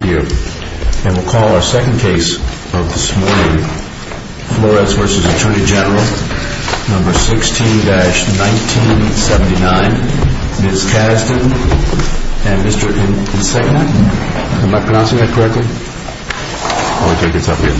And we'll call our second case of this morning, Flores v. Atty. Gen. No. 16-1979, Ms. Kasdan and Mr. Insegna. Am I pronouncing that correctly? I'll take this up here.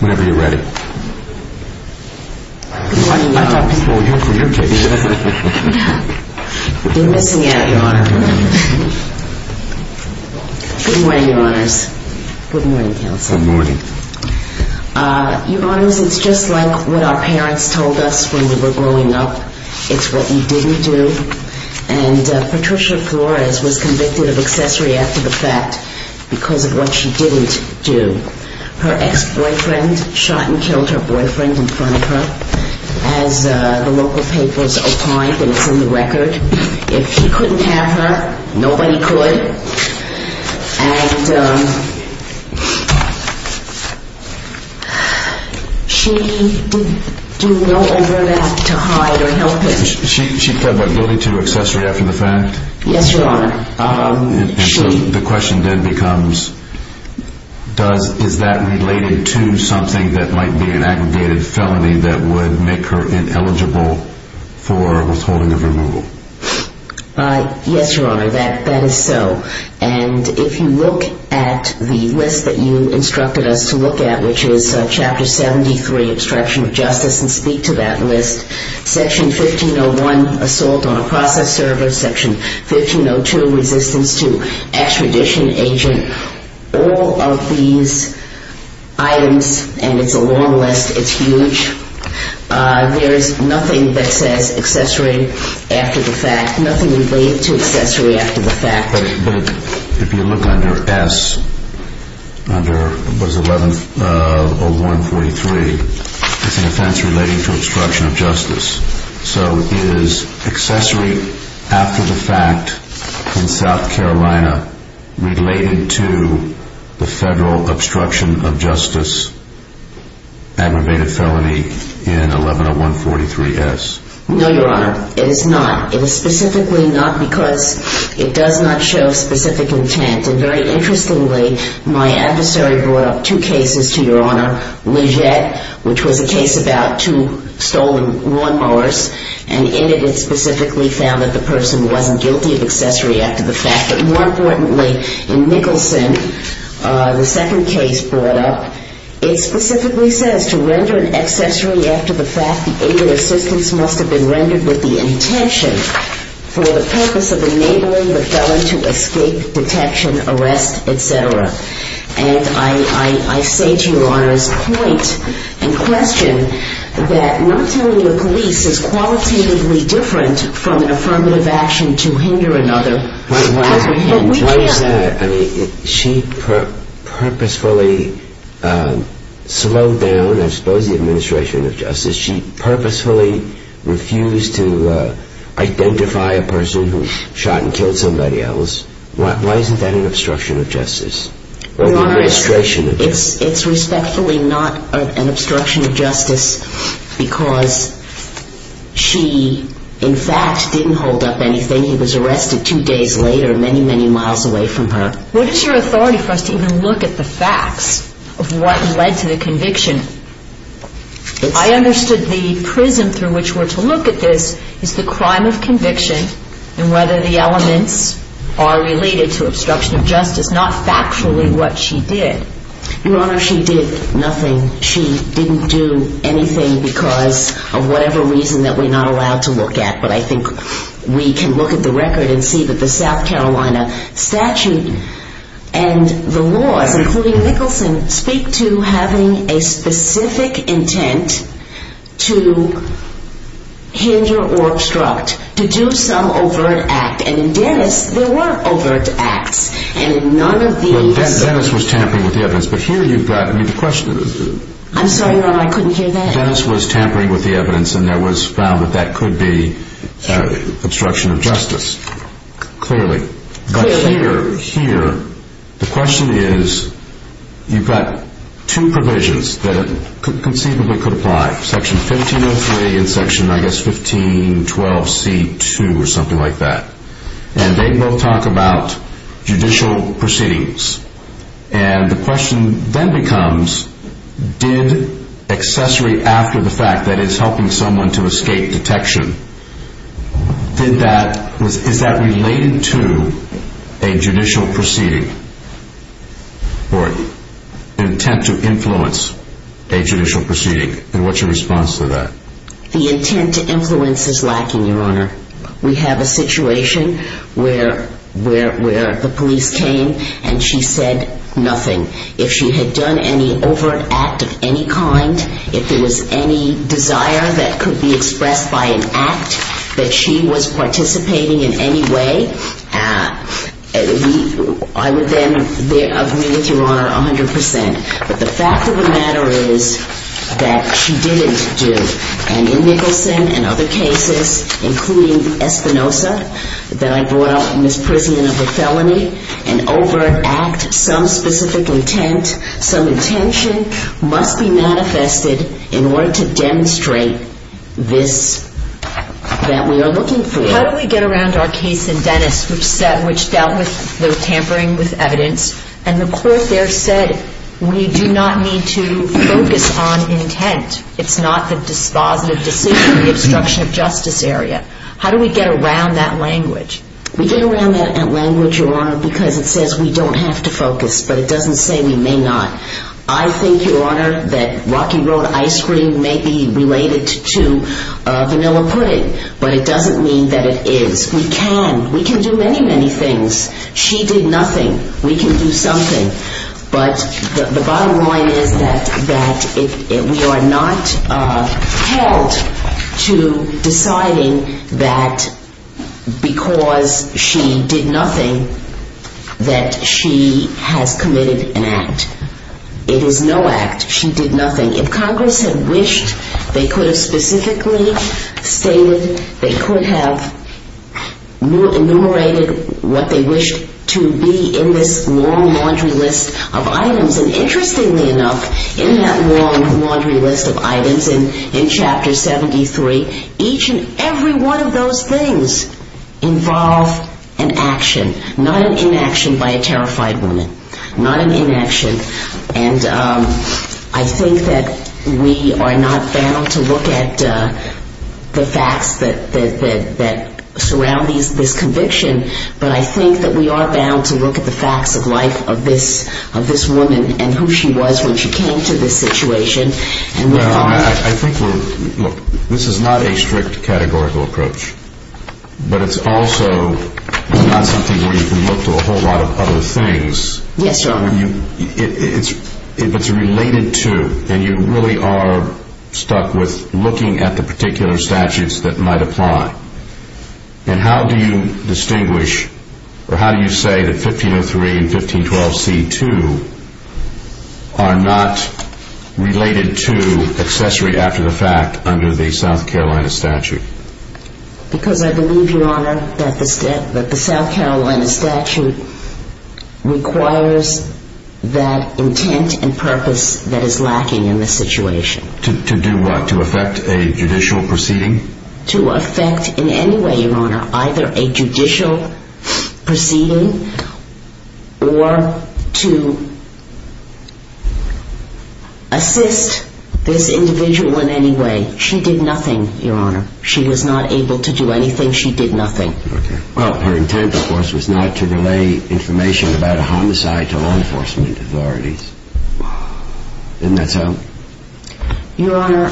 Whenever you're ready. Good morning, Your Honors. Good morning, Your Honors. Good morning, Counselor. Good morning. Your Honors, it's just like what our parents told us when we were growing up. It's what you didn't do. And Patricia Flores was convicted of accessory after the fact because of what she didn't do. Her ex-boyfriend shot and killed her boyfriend in front of her, as the local papers opined, and it's in the record. If he couldn't have her, nobody could. And she did no overlap to hide or help him. She fled by building to accessory after the fact? Yes, Your Honor. And so the question then becomes, is that related to something that might be an aggregated felony that would make her ineligible for withholding of removal? Yes, Your Honor, that is so. And if you look at the list that you instructed us to look at, which is Chapter 73, Abstraction of Justice, and speak to that list, Section 1501, Assault on a Process Server, Section 1502, Resistance to Extradition Agent, all of these items, and it's a long list, it's huge. There is nothing that says accessory after the fact, nothing related to accessory after the fact. No, Your Honor, it is not. It is specifically not because it does not show specific intent. And very interestingly, my adversary brought up two cases to Your Honor, Legette, which was a case about two stolen lawnmowers, and in it it specifically found that the person wasn't guilty of accessory after the fact. But more importantly, in Nicholson, the second case brought up, it specifically says to render an accessory after the fact, the aid and assistance must have been rendered with the intention for the purpose of enabling the felon to escape detection, arrest, et cetera. And I say to Your Honor's point and question that not telling the police is qualitatively different from an affirmative action to hinder another. She purposefully slowed down, I suppose, the administration of justice. She purposefully refused to identify a person who shot and killed somebody else. Why isn't that an obstruction of justice? Your Honor, it's respectfully not an obstruction of justice because she, in fact, didn't hold up anything. He was arrested two days later, many, many miles away from her. What is your authority for us to even look at the facts of what led to the conviction? I understood the prism through which we're to look at this is the crime of conviction and whether the elements are related to obstruction of justice, not factually what she did. Your Honor, she did nothing. She didn't do anything because of whatever reason that we're not allowed to look at. But I think we can look at the record and see that the South Carolina statute and the laws, including Nicholson, speak to having a specific intent to hinder or obstruct, to do some overt act. And in Dennis, there were overt acts. And in none of these – Well, Dennis was tampering with the evidence. But here you've got – I mean, the question is – I'm sorry, Your Honor, I couldn't hear that. Dennis was tampering with the evidence, and it was found that that could be obstruction of justice, clearly. But here, the question is, you've got two provisions that conceivably could apply, Section 1503 and Section, I guess, 1512c2 or something like that. And they both talk about judicial proceedings. And the question then becomes, did accessory after the fact, that is, helping someone to escape detection, did that – is that related to a judicial proceeding or intent to influence a judicial proceeding? And what's your response to that? The intent to influence is lacking, Your Honor. We have a situation where the police came and she said nothing. If she had done any overt act of any kind, if there was any desire that could be expressed by an act, that she was participating in any way, I would then agree with Your Honor 100 percent. But the fact of the matter is that she didn't do. And in Nicholson and other cases, including Espinoza, that I brought up in this prison of a felony, an overt act, some specific intent, some intention, must be manifested in order to demonstrate this – that we are looking for. How do we get around our case in Dennis, which dealt with the tampering with evidence, and the court there said we do not need to focus on intent. It's not the dispositive decision, the obstruction of justice area. How do we get around that language? We get around that language, Your Honor, because it says we don't have to focus. But it doesn't say we may not. I think, Your Honor, that Rocky Road ice cream may be related to vanilla pudding, but it doesn't mean that it is. We can. We can do many, many things. She did nothing. We can do something. But the bottom line is that we are not held to deciding that because she did nothing that she has committed an act. It is no act. She did nothing. If Congress had wished, they could have specifically stated, they could have enumerated what they wished to be in this long laundry list of items. And interestingly enough, in that long laundry list of items, in Chapter 73, each and every one of those things involve an action, not an inaction by a terrified woman. Not an inaction. And I think that we are not bound to look at the facts that surround this conviction. But I think that we are bound to look at the facts of life of this woman and who she was when she came to this situation. I think we're, look, this is not a strict categorical approach. But it's also not something where you can look to a whole lot of other things. Yes, Your Honor. If it's related to, and you really are stuck with looking at the particular statutes that might apply, then how do you distinguish or how do you say that 1503 and 1512c2 are not related to accessory after the fact under the South Carolina statute? Because I believe, Your Honor, that the South Carolina statute requires that intent and purpose that is lacking in this situation. To do what? To effect a judicial proceeding? To effect in any way, Your Honor, either a judicial proceeding or to assist this individual in any way. She did nothing, Your Honor. She was not able to do anything. She did nothing. Well, her intent, of course, was not to relay information about a homicide to law enforcement authorities. Isn't that so? Your Honor,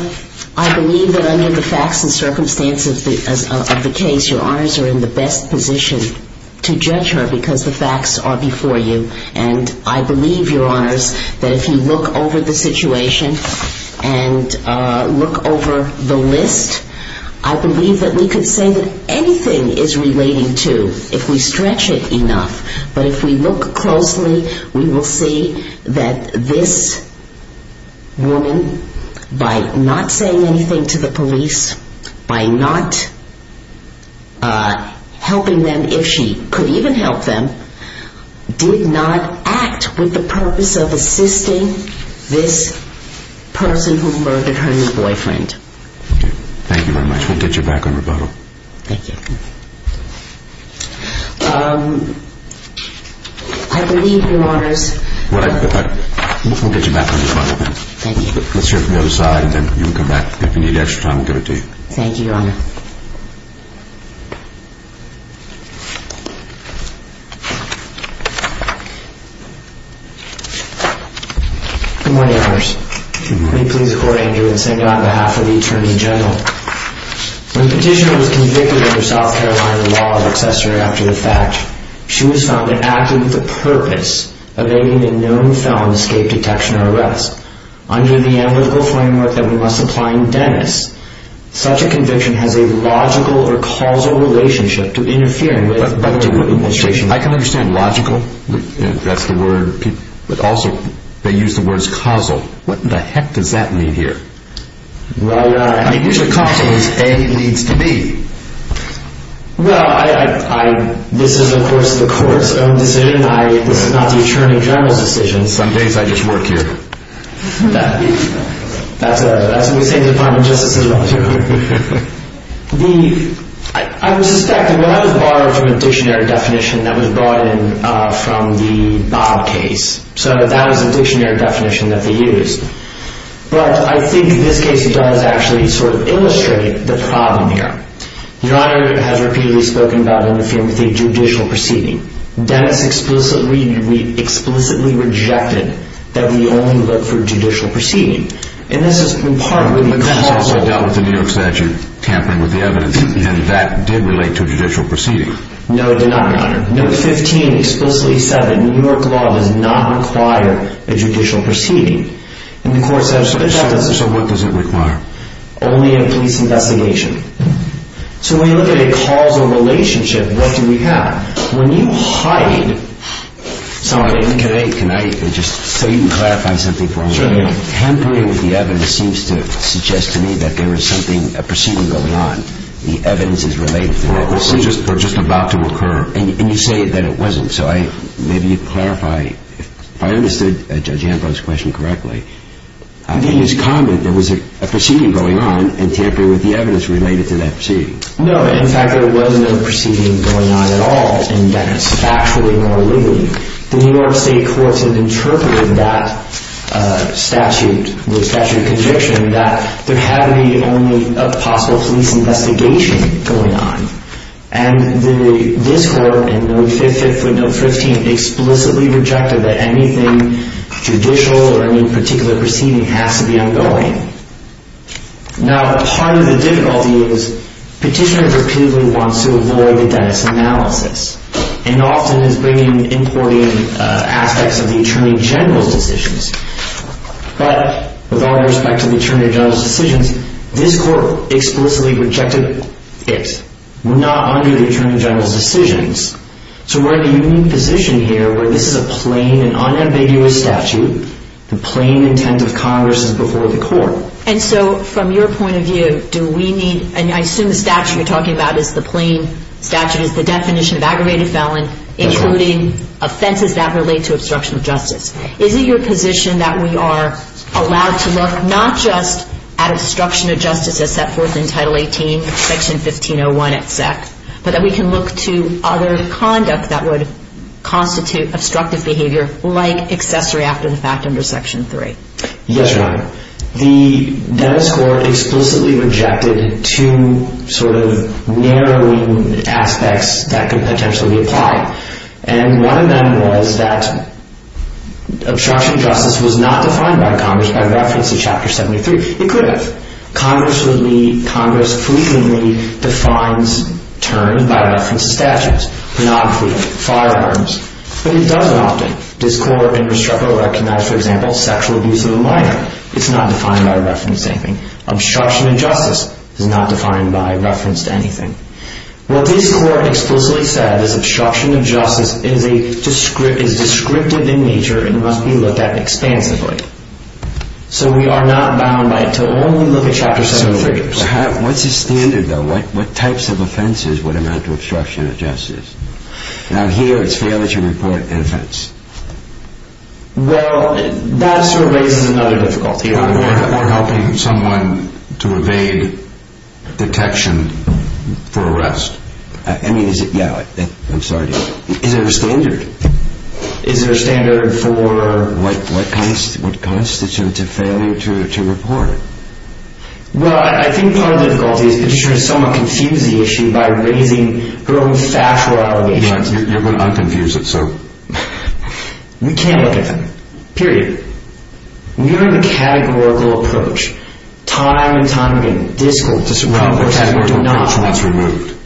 I believe that under the facts and circumstances of the case, Your Honors are in the best position to judge her because the facts are before you. And I believe, Your Honors, that if you look over the situation and look over the list, I believe that we could say that anything is relating to, if we stretch it enough, but if we look closely, we will see that this woman, by not saying anything to the police, by not helping them, if she could even help them, did not act with the purpose of assisting this person who murdered her new boyfriend. Thank you very much. We'll get you back on rebuttal. Thank you. I believe, Your Honors... We'll get you back on rebuttal then. Thank you. Let's hear it from the other side, and then you can come back if you need extra time to give it to you. Thank you, Your Honor. Good morning, Your Honors. Good morning. May it please the Court, Andrew, and St. John, on behalf of the Attorney General. When the petitioner was convicted under South Carolina law of accessory after the fact, she was found to have acted with the purpose of aiming a known felon escape detection or arrest under the analytical framework that we must apply in Dennis. Such a conviction has a logical or causal relationship to interfering with other administration... I can understand logical, that's the word, but also they use the words causal. What in the heck does that mean here? Well, Your Honor... I mean, usually causal is A leads to B. Well, this is, of course, the Court's own decision. This is not the Attorney General's decision. In some cases, I just work here. That's what we say in the Department of Justice as well. I would suspect that that was borrowed from a dictionary definition that was brought in from the Bob case. So that was the dictionary definition that they used. But I think this case does actually sort of illustrate the problem here. Your Honor has repeatedly spoken about interfering with a judicial proceeding. Dennis explicitly rejected that we only look for a judicial proceeding. And this is in part because... But that's also dealt with in New York statute, tampering with the evidence. And that did relate to a judicial proceeding. No, it did not, Your Honor. Note 15 explicitly said that New York law does not require a judicial proceeding. And the Court said... So what does it require? Only a police investigation. So when you look at a causal relationship, what do we have? When you hide something... Can I just... so you can clarify something for me. Sure. Tampering with the evidence seems to suggest to me that there is something, a proceeding going on. The evidence is related to that proceeding. They're just about to occur. And you say that it wasn't. So I... maybe you clarify. If I understood Judge Ambrose's question correctly... I didn't use comment. There was a proceeding going on and tampering with the evidence related to that proceeding. No, in fact, there was no proceeding going on at all. And that is factually more legal. The New York State Courts have interpreted that statute, the statute of conviction, that there had to be only a possible police investigation going on. And the... this Court, in Note 5, 5th foot, Note 15, explicitly rejected that anything judicial or any particular proceeding has to be ongoing. Now, part of the difficulty is Petitioner repeatedly wants to avoid the Dennis analysis. And often is bringing... importing aspects of the Attorney General's decisions. But, with all due respect to the Attorney General's decisions, this Court explicitly rejected it. Not under the Attorney General's decisions. So we're in a unique position here where this is a plain and unambiguous statute. The plain intent of Congress is before the Court. And so, from your point of view, do we need... and I assume the statute you're talking about is the plain statute, is the definition of aggravated felon, including offenses that relate to obstruction of justice. Is it your position that we are allowed to look not just at obstruction of justice as set forth in Title 18, Section 1501, etc., but that we can look to other conduct that would constitute obstructive behavior like accessory after the fact under Section 3? Yes, Your Honor. The Dennis Court explicitly rejected two sort of narrowing aspects that could potentially apply. And one of them was that obstruction of justice was not defined by Congress by reference to Chapter 73. It could have. Congress would be... Congress fleetingly defines terms by reference to statutes. Monopoly, firearms. But it doesn't often. This Court indestructibly recognized, for example, sexual abuse of a minor. It's not defined by reference to anything. Obstruction of justice is not defined by reference to anything. What this Court explicitly said is obstruction of justice is descriptive in nature and must be looked at expansively. So we are not bound to only look at Chapter 73. What's the standard, though? What types of offenses would amount to obstruction of justice? Now here it's failure to report an offense. Well, that sort of raises another difficulty. You're not helping someone to evade detection for arrest. I mean, is it? Yeah. I'm sorry. Is there a standard? Is there a standard for... What constitutes a failure to report? Well, I think part of the difficulty is that Patricia has somewhat confused the issue by raising her own factual allegations. You're going to unconfuse it, so... We can't look at them. Period. We are in a categorical approach. Time and time again. Discounts. No, a categorical approach. That's removed.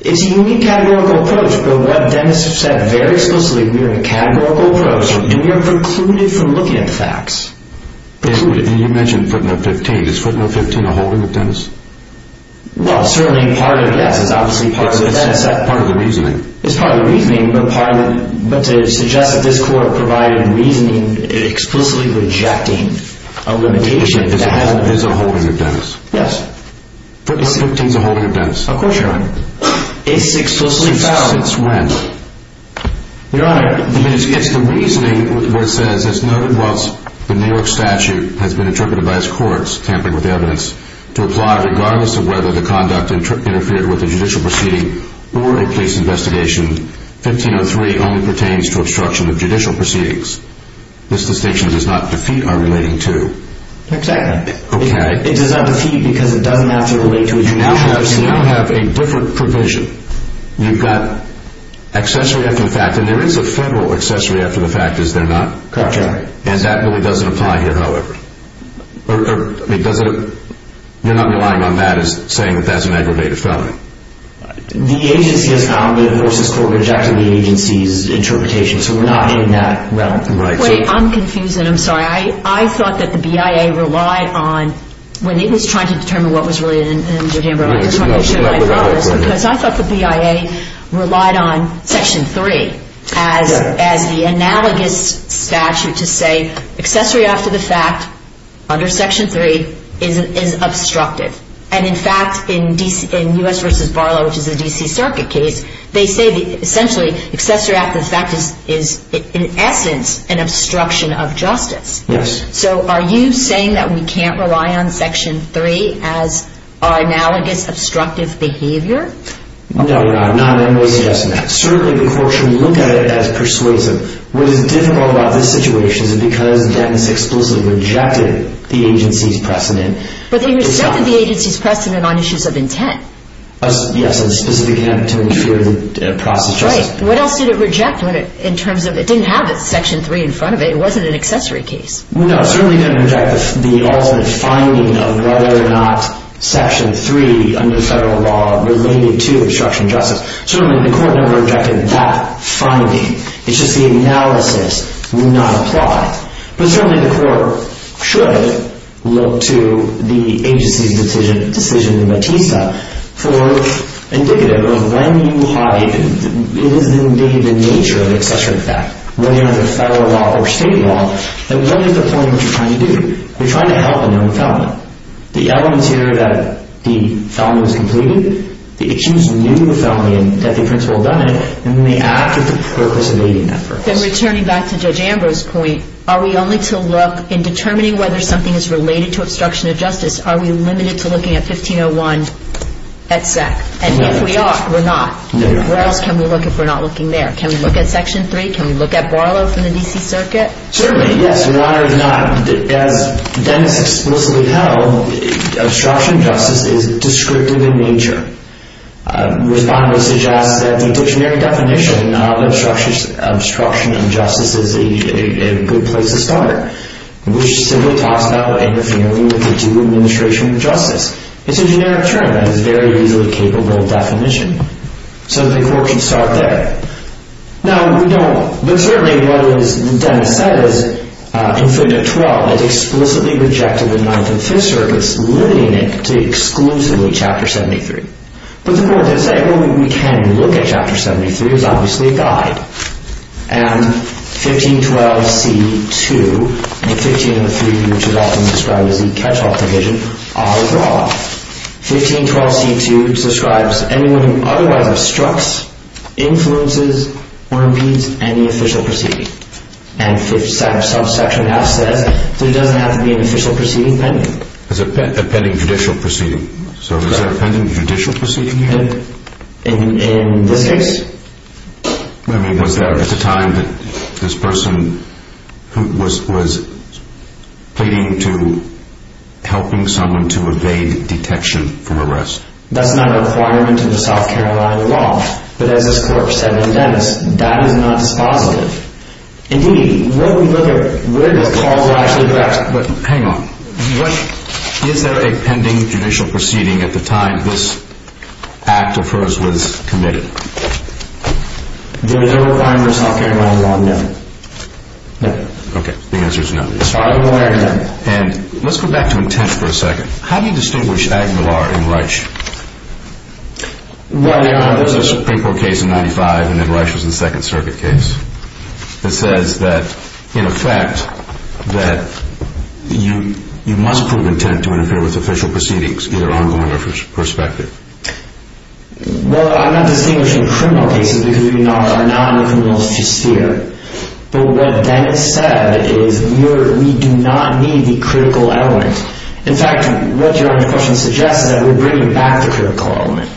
It's a unique categorical approach, but what Dennis has said very explicitly, we are in a categorical approach, and we are precluded from looking at the facts. Precluded. And you mentioned footnote 15. Is footnote 15 a holding of Dennis? Well, certainly part of it, yes. It's obviously part of the reason. It's part of the reasoning. It's part of the reasoning, but to suggest that this court provided reasoning explicitly rejecting a limitation... It is a holding of Dennis. Yes. Footnote 15 is a holding of Dennis. Of course, Your Honor. It's explicitly found... Since when? Your Honor... It's the reasoning where it says, it's noted whilst the New York statute has been interpreted by its courts, tampering with evidence, to apply regardless of whether the conduct interfered with a judicial proceeding or a case investigation, 1503 only pertains to obstruction of judicial proceedings. This distinction does not defeat our relating to. Exactly. Okay. It does not defeat because it doesn't have to relate to a judicial proceeding. You now have a different provision. You've got accessory after the fact, and there is a federal accessory after the fact, is there not? Correct, Your Honor. And that really doesn't apply here, however? Or does it... You're not relying on that as saying that that's an aggravated felony? The agency has commented versus the court rejecting the agency's interpretation, so we're not in that realm. Wait, I'm confused, and I'm sorry. I thought that the BIA relied on... When it was trying to determine what was really in Jodambro, because I thought the BIA relied on Section 3 as the analogous statute to say accessory after the fact under Section 3 is obstructive. And, in fact, in U.S. v. Barlow, which is a D.C. Circuit case, they say essentially accessory after the fact is, in essence, an obstruction of justice. Yes. So are you saying that we can't rely on Section 3 as our analogous obstructive behavior? No, Your Honor. I'm not in any way suggesting that. Certainly, the court should look at it as persuasive. What is difficult about this situation is because JEDMIS explicitly rejected the agency's precedent. But they rejected the agency's precedent on issues of intent. Yes, and specifically to interfere with process justice. Right. What else did it reject in terms of it didn't have Section 3 in front of it? It wasn't an accessory case. No, certainly it didn't reject the ultimate finding of whether or not Section 3, under federal law, related to obstruction of justice. Certainly, the court never rejected that finding. It's just the analysis would not apply. But certainly the court should look to the agency's decision in Batista for indicative of when you hide. It is, indeed, the nature of accessory after the fact. And what is the point of what you're trying to do? You're trying to help a known felon. The element here that the felon was completed, the accused knew the felony and that the principal had done it, and then they acted for the purpose of aiding that purpose. Then returning back to Judge Ambrose's point, are we only to look in determining whether something is related to obstruction of justice, are we limited to looking at 1501 et sec? And if we are, we're not. No, Your Honor. Where else can we look if we're not looking there? Can we look at Section 3? Can we look at Barlow from the D.C. Circuit? Certainly, yes. Your Honor, if not, as Dennis explicitly held, obstruction of justice is descriptive in nature. Respondent suggests that the dictionary definition of obstruction of justice is a good place to start, which simply talks about interfering with the due administration of justice. It's a generic term that is very easily capable of definition. So the court should start there. Now, we don't, but certainly what Dennis said is, in Fig. 12, it's explicitly rejected in 9th and 5th Circuits, limiting it to exclusively Chapter 73. But the court did say, well, we can look at Chapter 73, it's obviously a guide. And 1512c2, the 15 and the 3, which is often described as the catch-all provision, are drawn. 1512c2 describes anyone who otherwise obstructs, influences, or impedes any official proceeding. And Subsection F says there doesn't have to be an official proceeding pending. It's a pending judicial proceeding. So is there a pending judicial proceeding here? In this case. I mean, was there at the time that this person was pleading to helping someone to evade detection from arrest? That's not a requirement in the South Carolina law. But as this court said in Dennis, that is not dispositive. Indeed, what we look at, what are the calls that are actually drafted? But hang on. Is there a pending judicial proceeding at the time this act of hers was committed? There is no requirement in the South Carolina law, no. No. Okay, the answer is no. As far as we're aware, no. And let's go back to intent for a second. How do you distinguish Aguilar and Reich? Well, Your Honor, there's a Supreme Court case in 1995, and then Reich was the Second Circuit case, that says that, in effect, that you must prove intent to interfere with official proceedings, either ongoing or prospective. Well, I'm not distinguishing criminal cases because we are not in the criminal sphere. But what Dennis said is we do not need the critical element. In fact, what Your Honor's question suggests is that we're bringing back the critical element.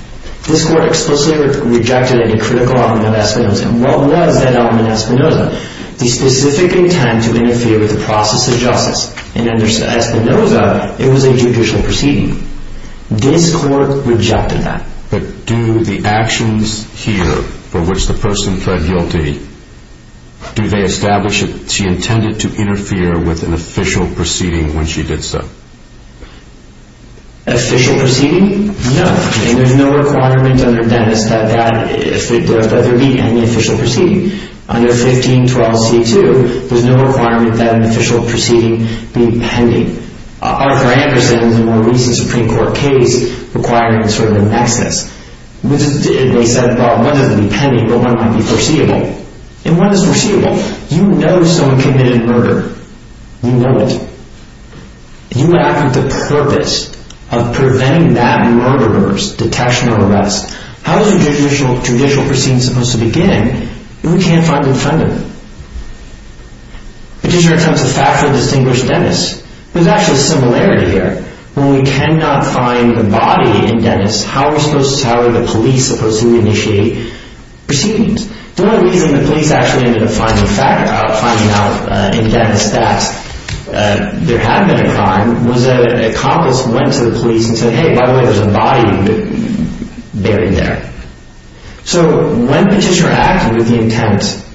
This court explicitly rejected a critical element of Espinoza. And what was that element of Espinoza? The specific intent to interfere with the process of justice. In Espinoza, it was a judicial proceeding. This court rejected that. But do the actions here, for which the person pled guilty, do they establish that she intended to interfere with an official proceeding when she did so? Official proceeding? No. There's no requirement under Dennis that there be any official proceeding. Under 1512c2, there's no requirement that an official proceeding be pending. Arthur Anderson's more recent Supreme Court case requiring sort of a nexus. They said, well, one doesn't need pending, but one might be foreseeable. And what is foreseeable? You know someone committed murder. You know it. You act with the purpose of preventing that murderer's detection or arrest. How is a judicial proceeding supposed to begin if we can't find an offender? Petitioner attempts to factually distinguish Dennis. There's actually a similarity here. When we cannot find the body in Dennis, how are the police supposed to initiate proceedings? The only reason the police actually ended up finding out in Dennis that there had been a crime was that an accomplice went to the police and said, hey, by the way, there's a body buried there. So when petitioner acted with the intent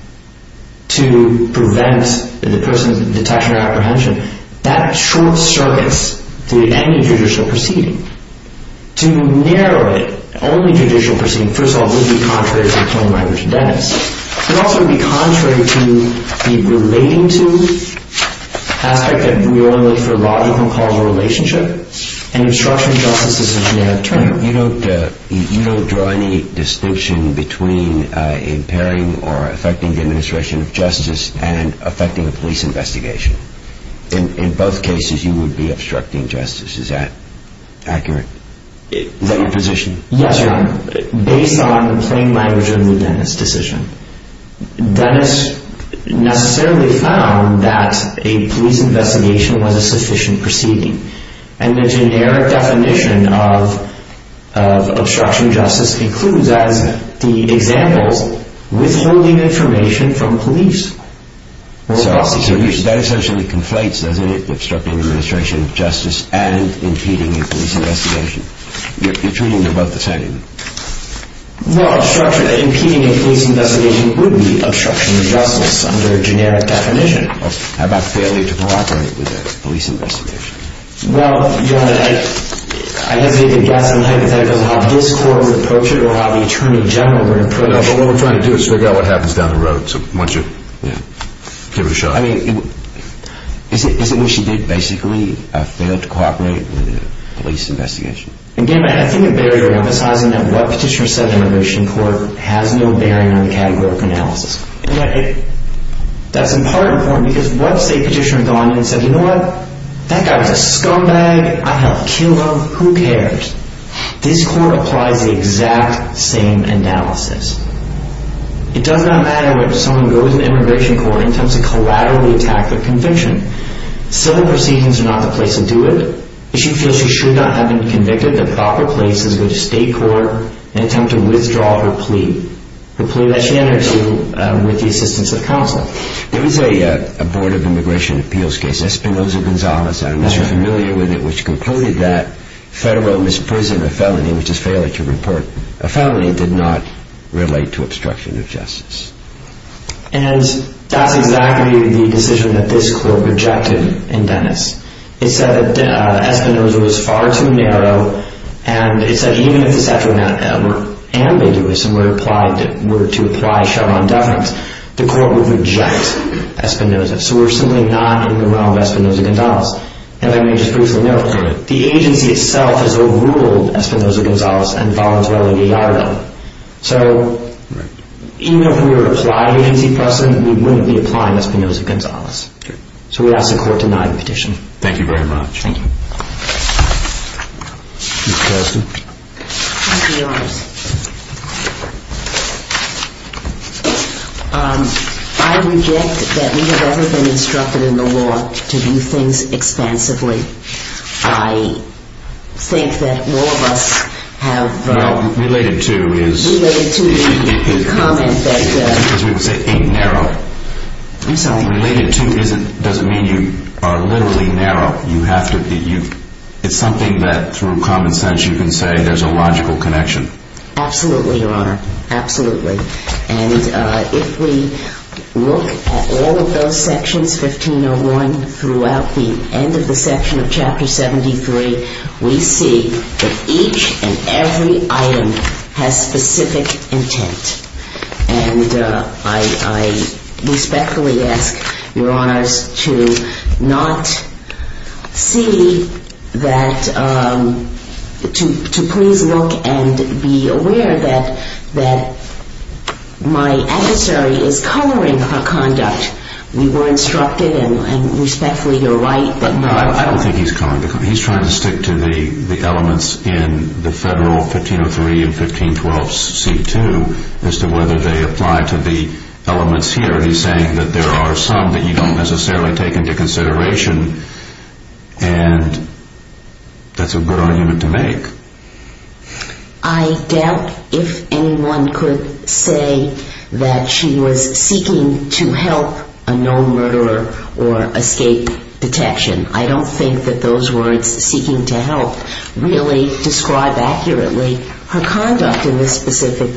to prevent the person's detection or apprehension, that short-circuits the end of judicial proceeding. To narrow it, only judicial proceeding, first of all, would be contrary to the claim by Richard Dennis. It also would be contrary to the relating to aspect that we only look for logical causal relationship and obstruction of justice as a generic term. You don't draw any distinction between impairing or affecting the administration of justice and affecting a police investigation. In both cases, you would be obstructing justice. Is that accurate? Is that your position? Yes, Your Honor. Based on the plain language of the Dennis decision, Dennis necessarily found that a police investigation was a sufficient proceeding. And the generic definition of obstruction of justice includes, as the example, withholding information from police. So that essentially conflates, doesn't it? Obstructing administration of justice and impeding a police investigation. You're treating them both the same. Well, obstruction, impeding a police investigation would be obstruction of justice under generic definition. How about failure to cooperate with a police investigation? Well, Your Honor, I hesitate to guess on the hypothetical of how this Court would approach it or how the Attorney General would approach it. No, but what we're trying to do is figure out what happens down the road. So why don't you give it a shot? I mean, is it what she did, basically? Fail to cooperate with a police investigation? Again, I think a barrier emphasizing that what petitioner said in the immigration court has no bearing on the categorical analysis. That's in part important because once a petitioner has gone in and said, you know what, that guy was a scumbag. I helped kill him. Who cares? This Court applies the exact same analysis. It does not matter whether someone goes to the immigration court and attempts to collaterally attack their conviction. Civil proceedings are not the place to do it. If she feels she should not have been convicted, the proper place is with the state court in an attempt to withdraw her plea. The plea that she enters with the assistance of counsel. There was a Board of Immigration Appeals case, Espinoza-Gonzalez, I'm not sure if you're familiar with it, which concluded that federal misprison or felony, which is failure to report a felony, did not relate to obstruction of justice. And that's exactly the decision that this Court rejected in Dennis. It said that Espinoza was far too narrow, and it said even if the statute were ambiguous and were to apply Chevron deference, the Court would reject Espinoza. So we're simply not in the realm of Espinoza-Gonzalez. And let me just briefly note, the agency itself has overruled Espinoza-Gonzalez and voluntarily de-autorized them. So even if we were to apply the agency precedent, we wouldn't be applying Espinoza-Gonzalez. So we ask the Court to deny the petition. Thank you very much. Thank you. Ms. Castor? I'll be honest. I reject that we have ever been instructed in the law to do things expansively. I think that all of us have... Well, related to is... Related to the comment that... Because we would say it ain't narrow. I'm sorry. Related to doesn't mean you are literally narrow. You have to be... It's something that through common sense you can say there's a logical connection. Absolutely, Your Honor. Absolutely. And if we look at all of those sections, 1501, throughout the end of the section of Chapter 73, we see that each and every item has specific intent. And I respectfully ask, Your Honors, to not see that... To please look and be aware that my adversary is coloring her conduct. We were instructed, and respectfully you're right... I don't think he's coloring. He's trying to stick to the elements in the Federal 1503 and 1512C2 as to whether they apply to the elements here. And he's saying that there are some that you don't necessarily take into consideration, and that's a good argument to make. I doubt if anyone could say that she was seeking to help a known murderer or escape detection. I don't think that those words, seeking to help, really describe accurately her conduct in this specific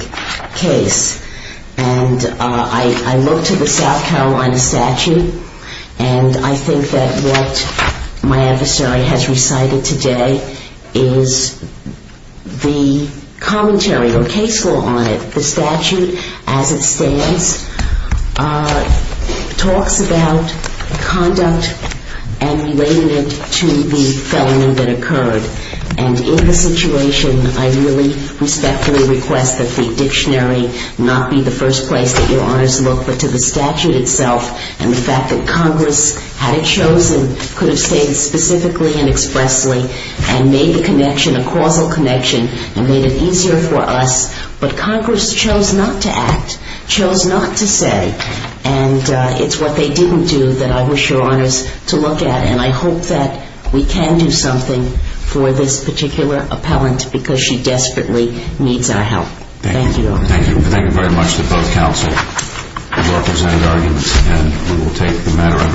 case. And I look to the South Carolina statute, and I think that what my adversary has recited today is the commentary or case law on it. The statute, as it stands, talks about conduct and related it to the felony that occurred. And in the situation, I really respectfully request that the dictionary not be the first place that Your Honors look, but to the statute itself and the fact that Congress, had it chosen, could have stated specifically and expressly and made the connection a causal connection and made it easier for us. But Congress chose not to act, chose not to say, and it's what they didn't do that I wish Your Honors to look at. And I hope that we can do something for this particular appellant because she desperately needs our help. Thank you. Thank you. Thank you very much to both counsel for your presented arguments, and we will take the matter under review.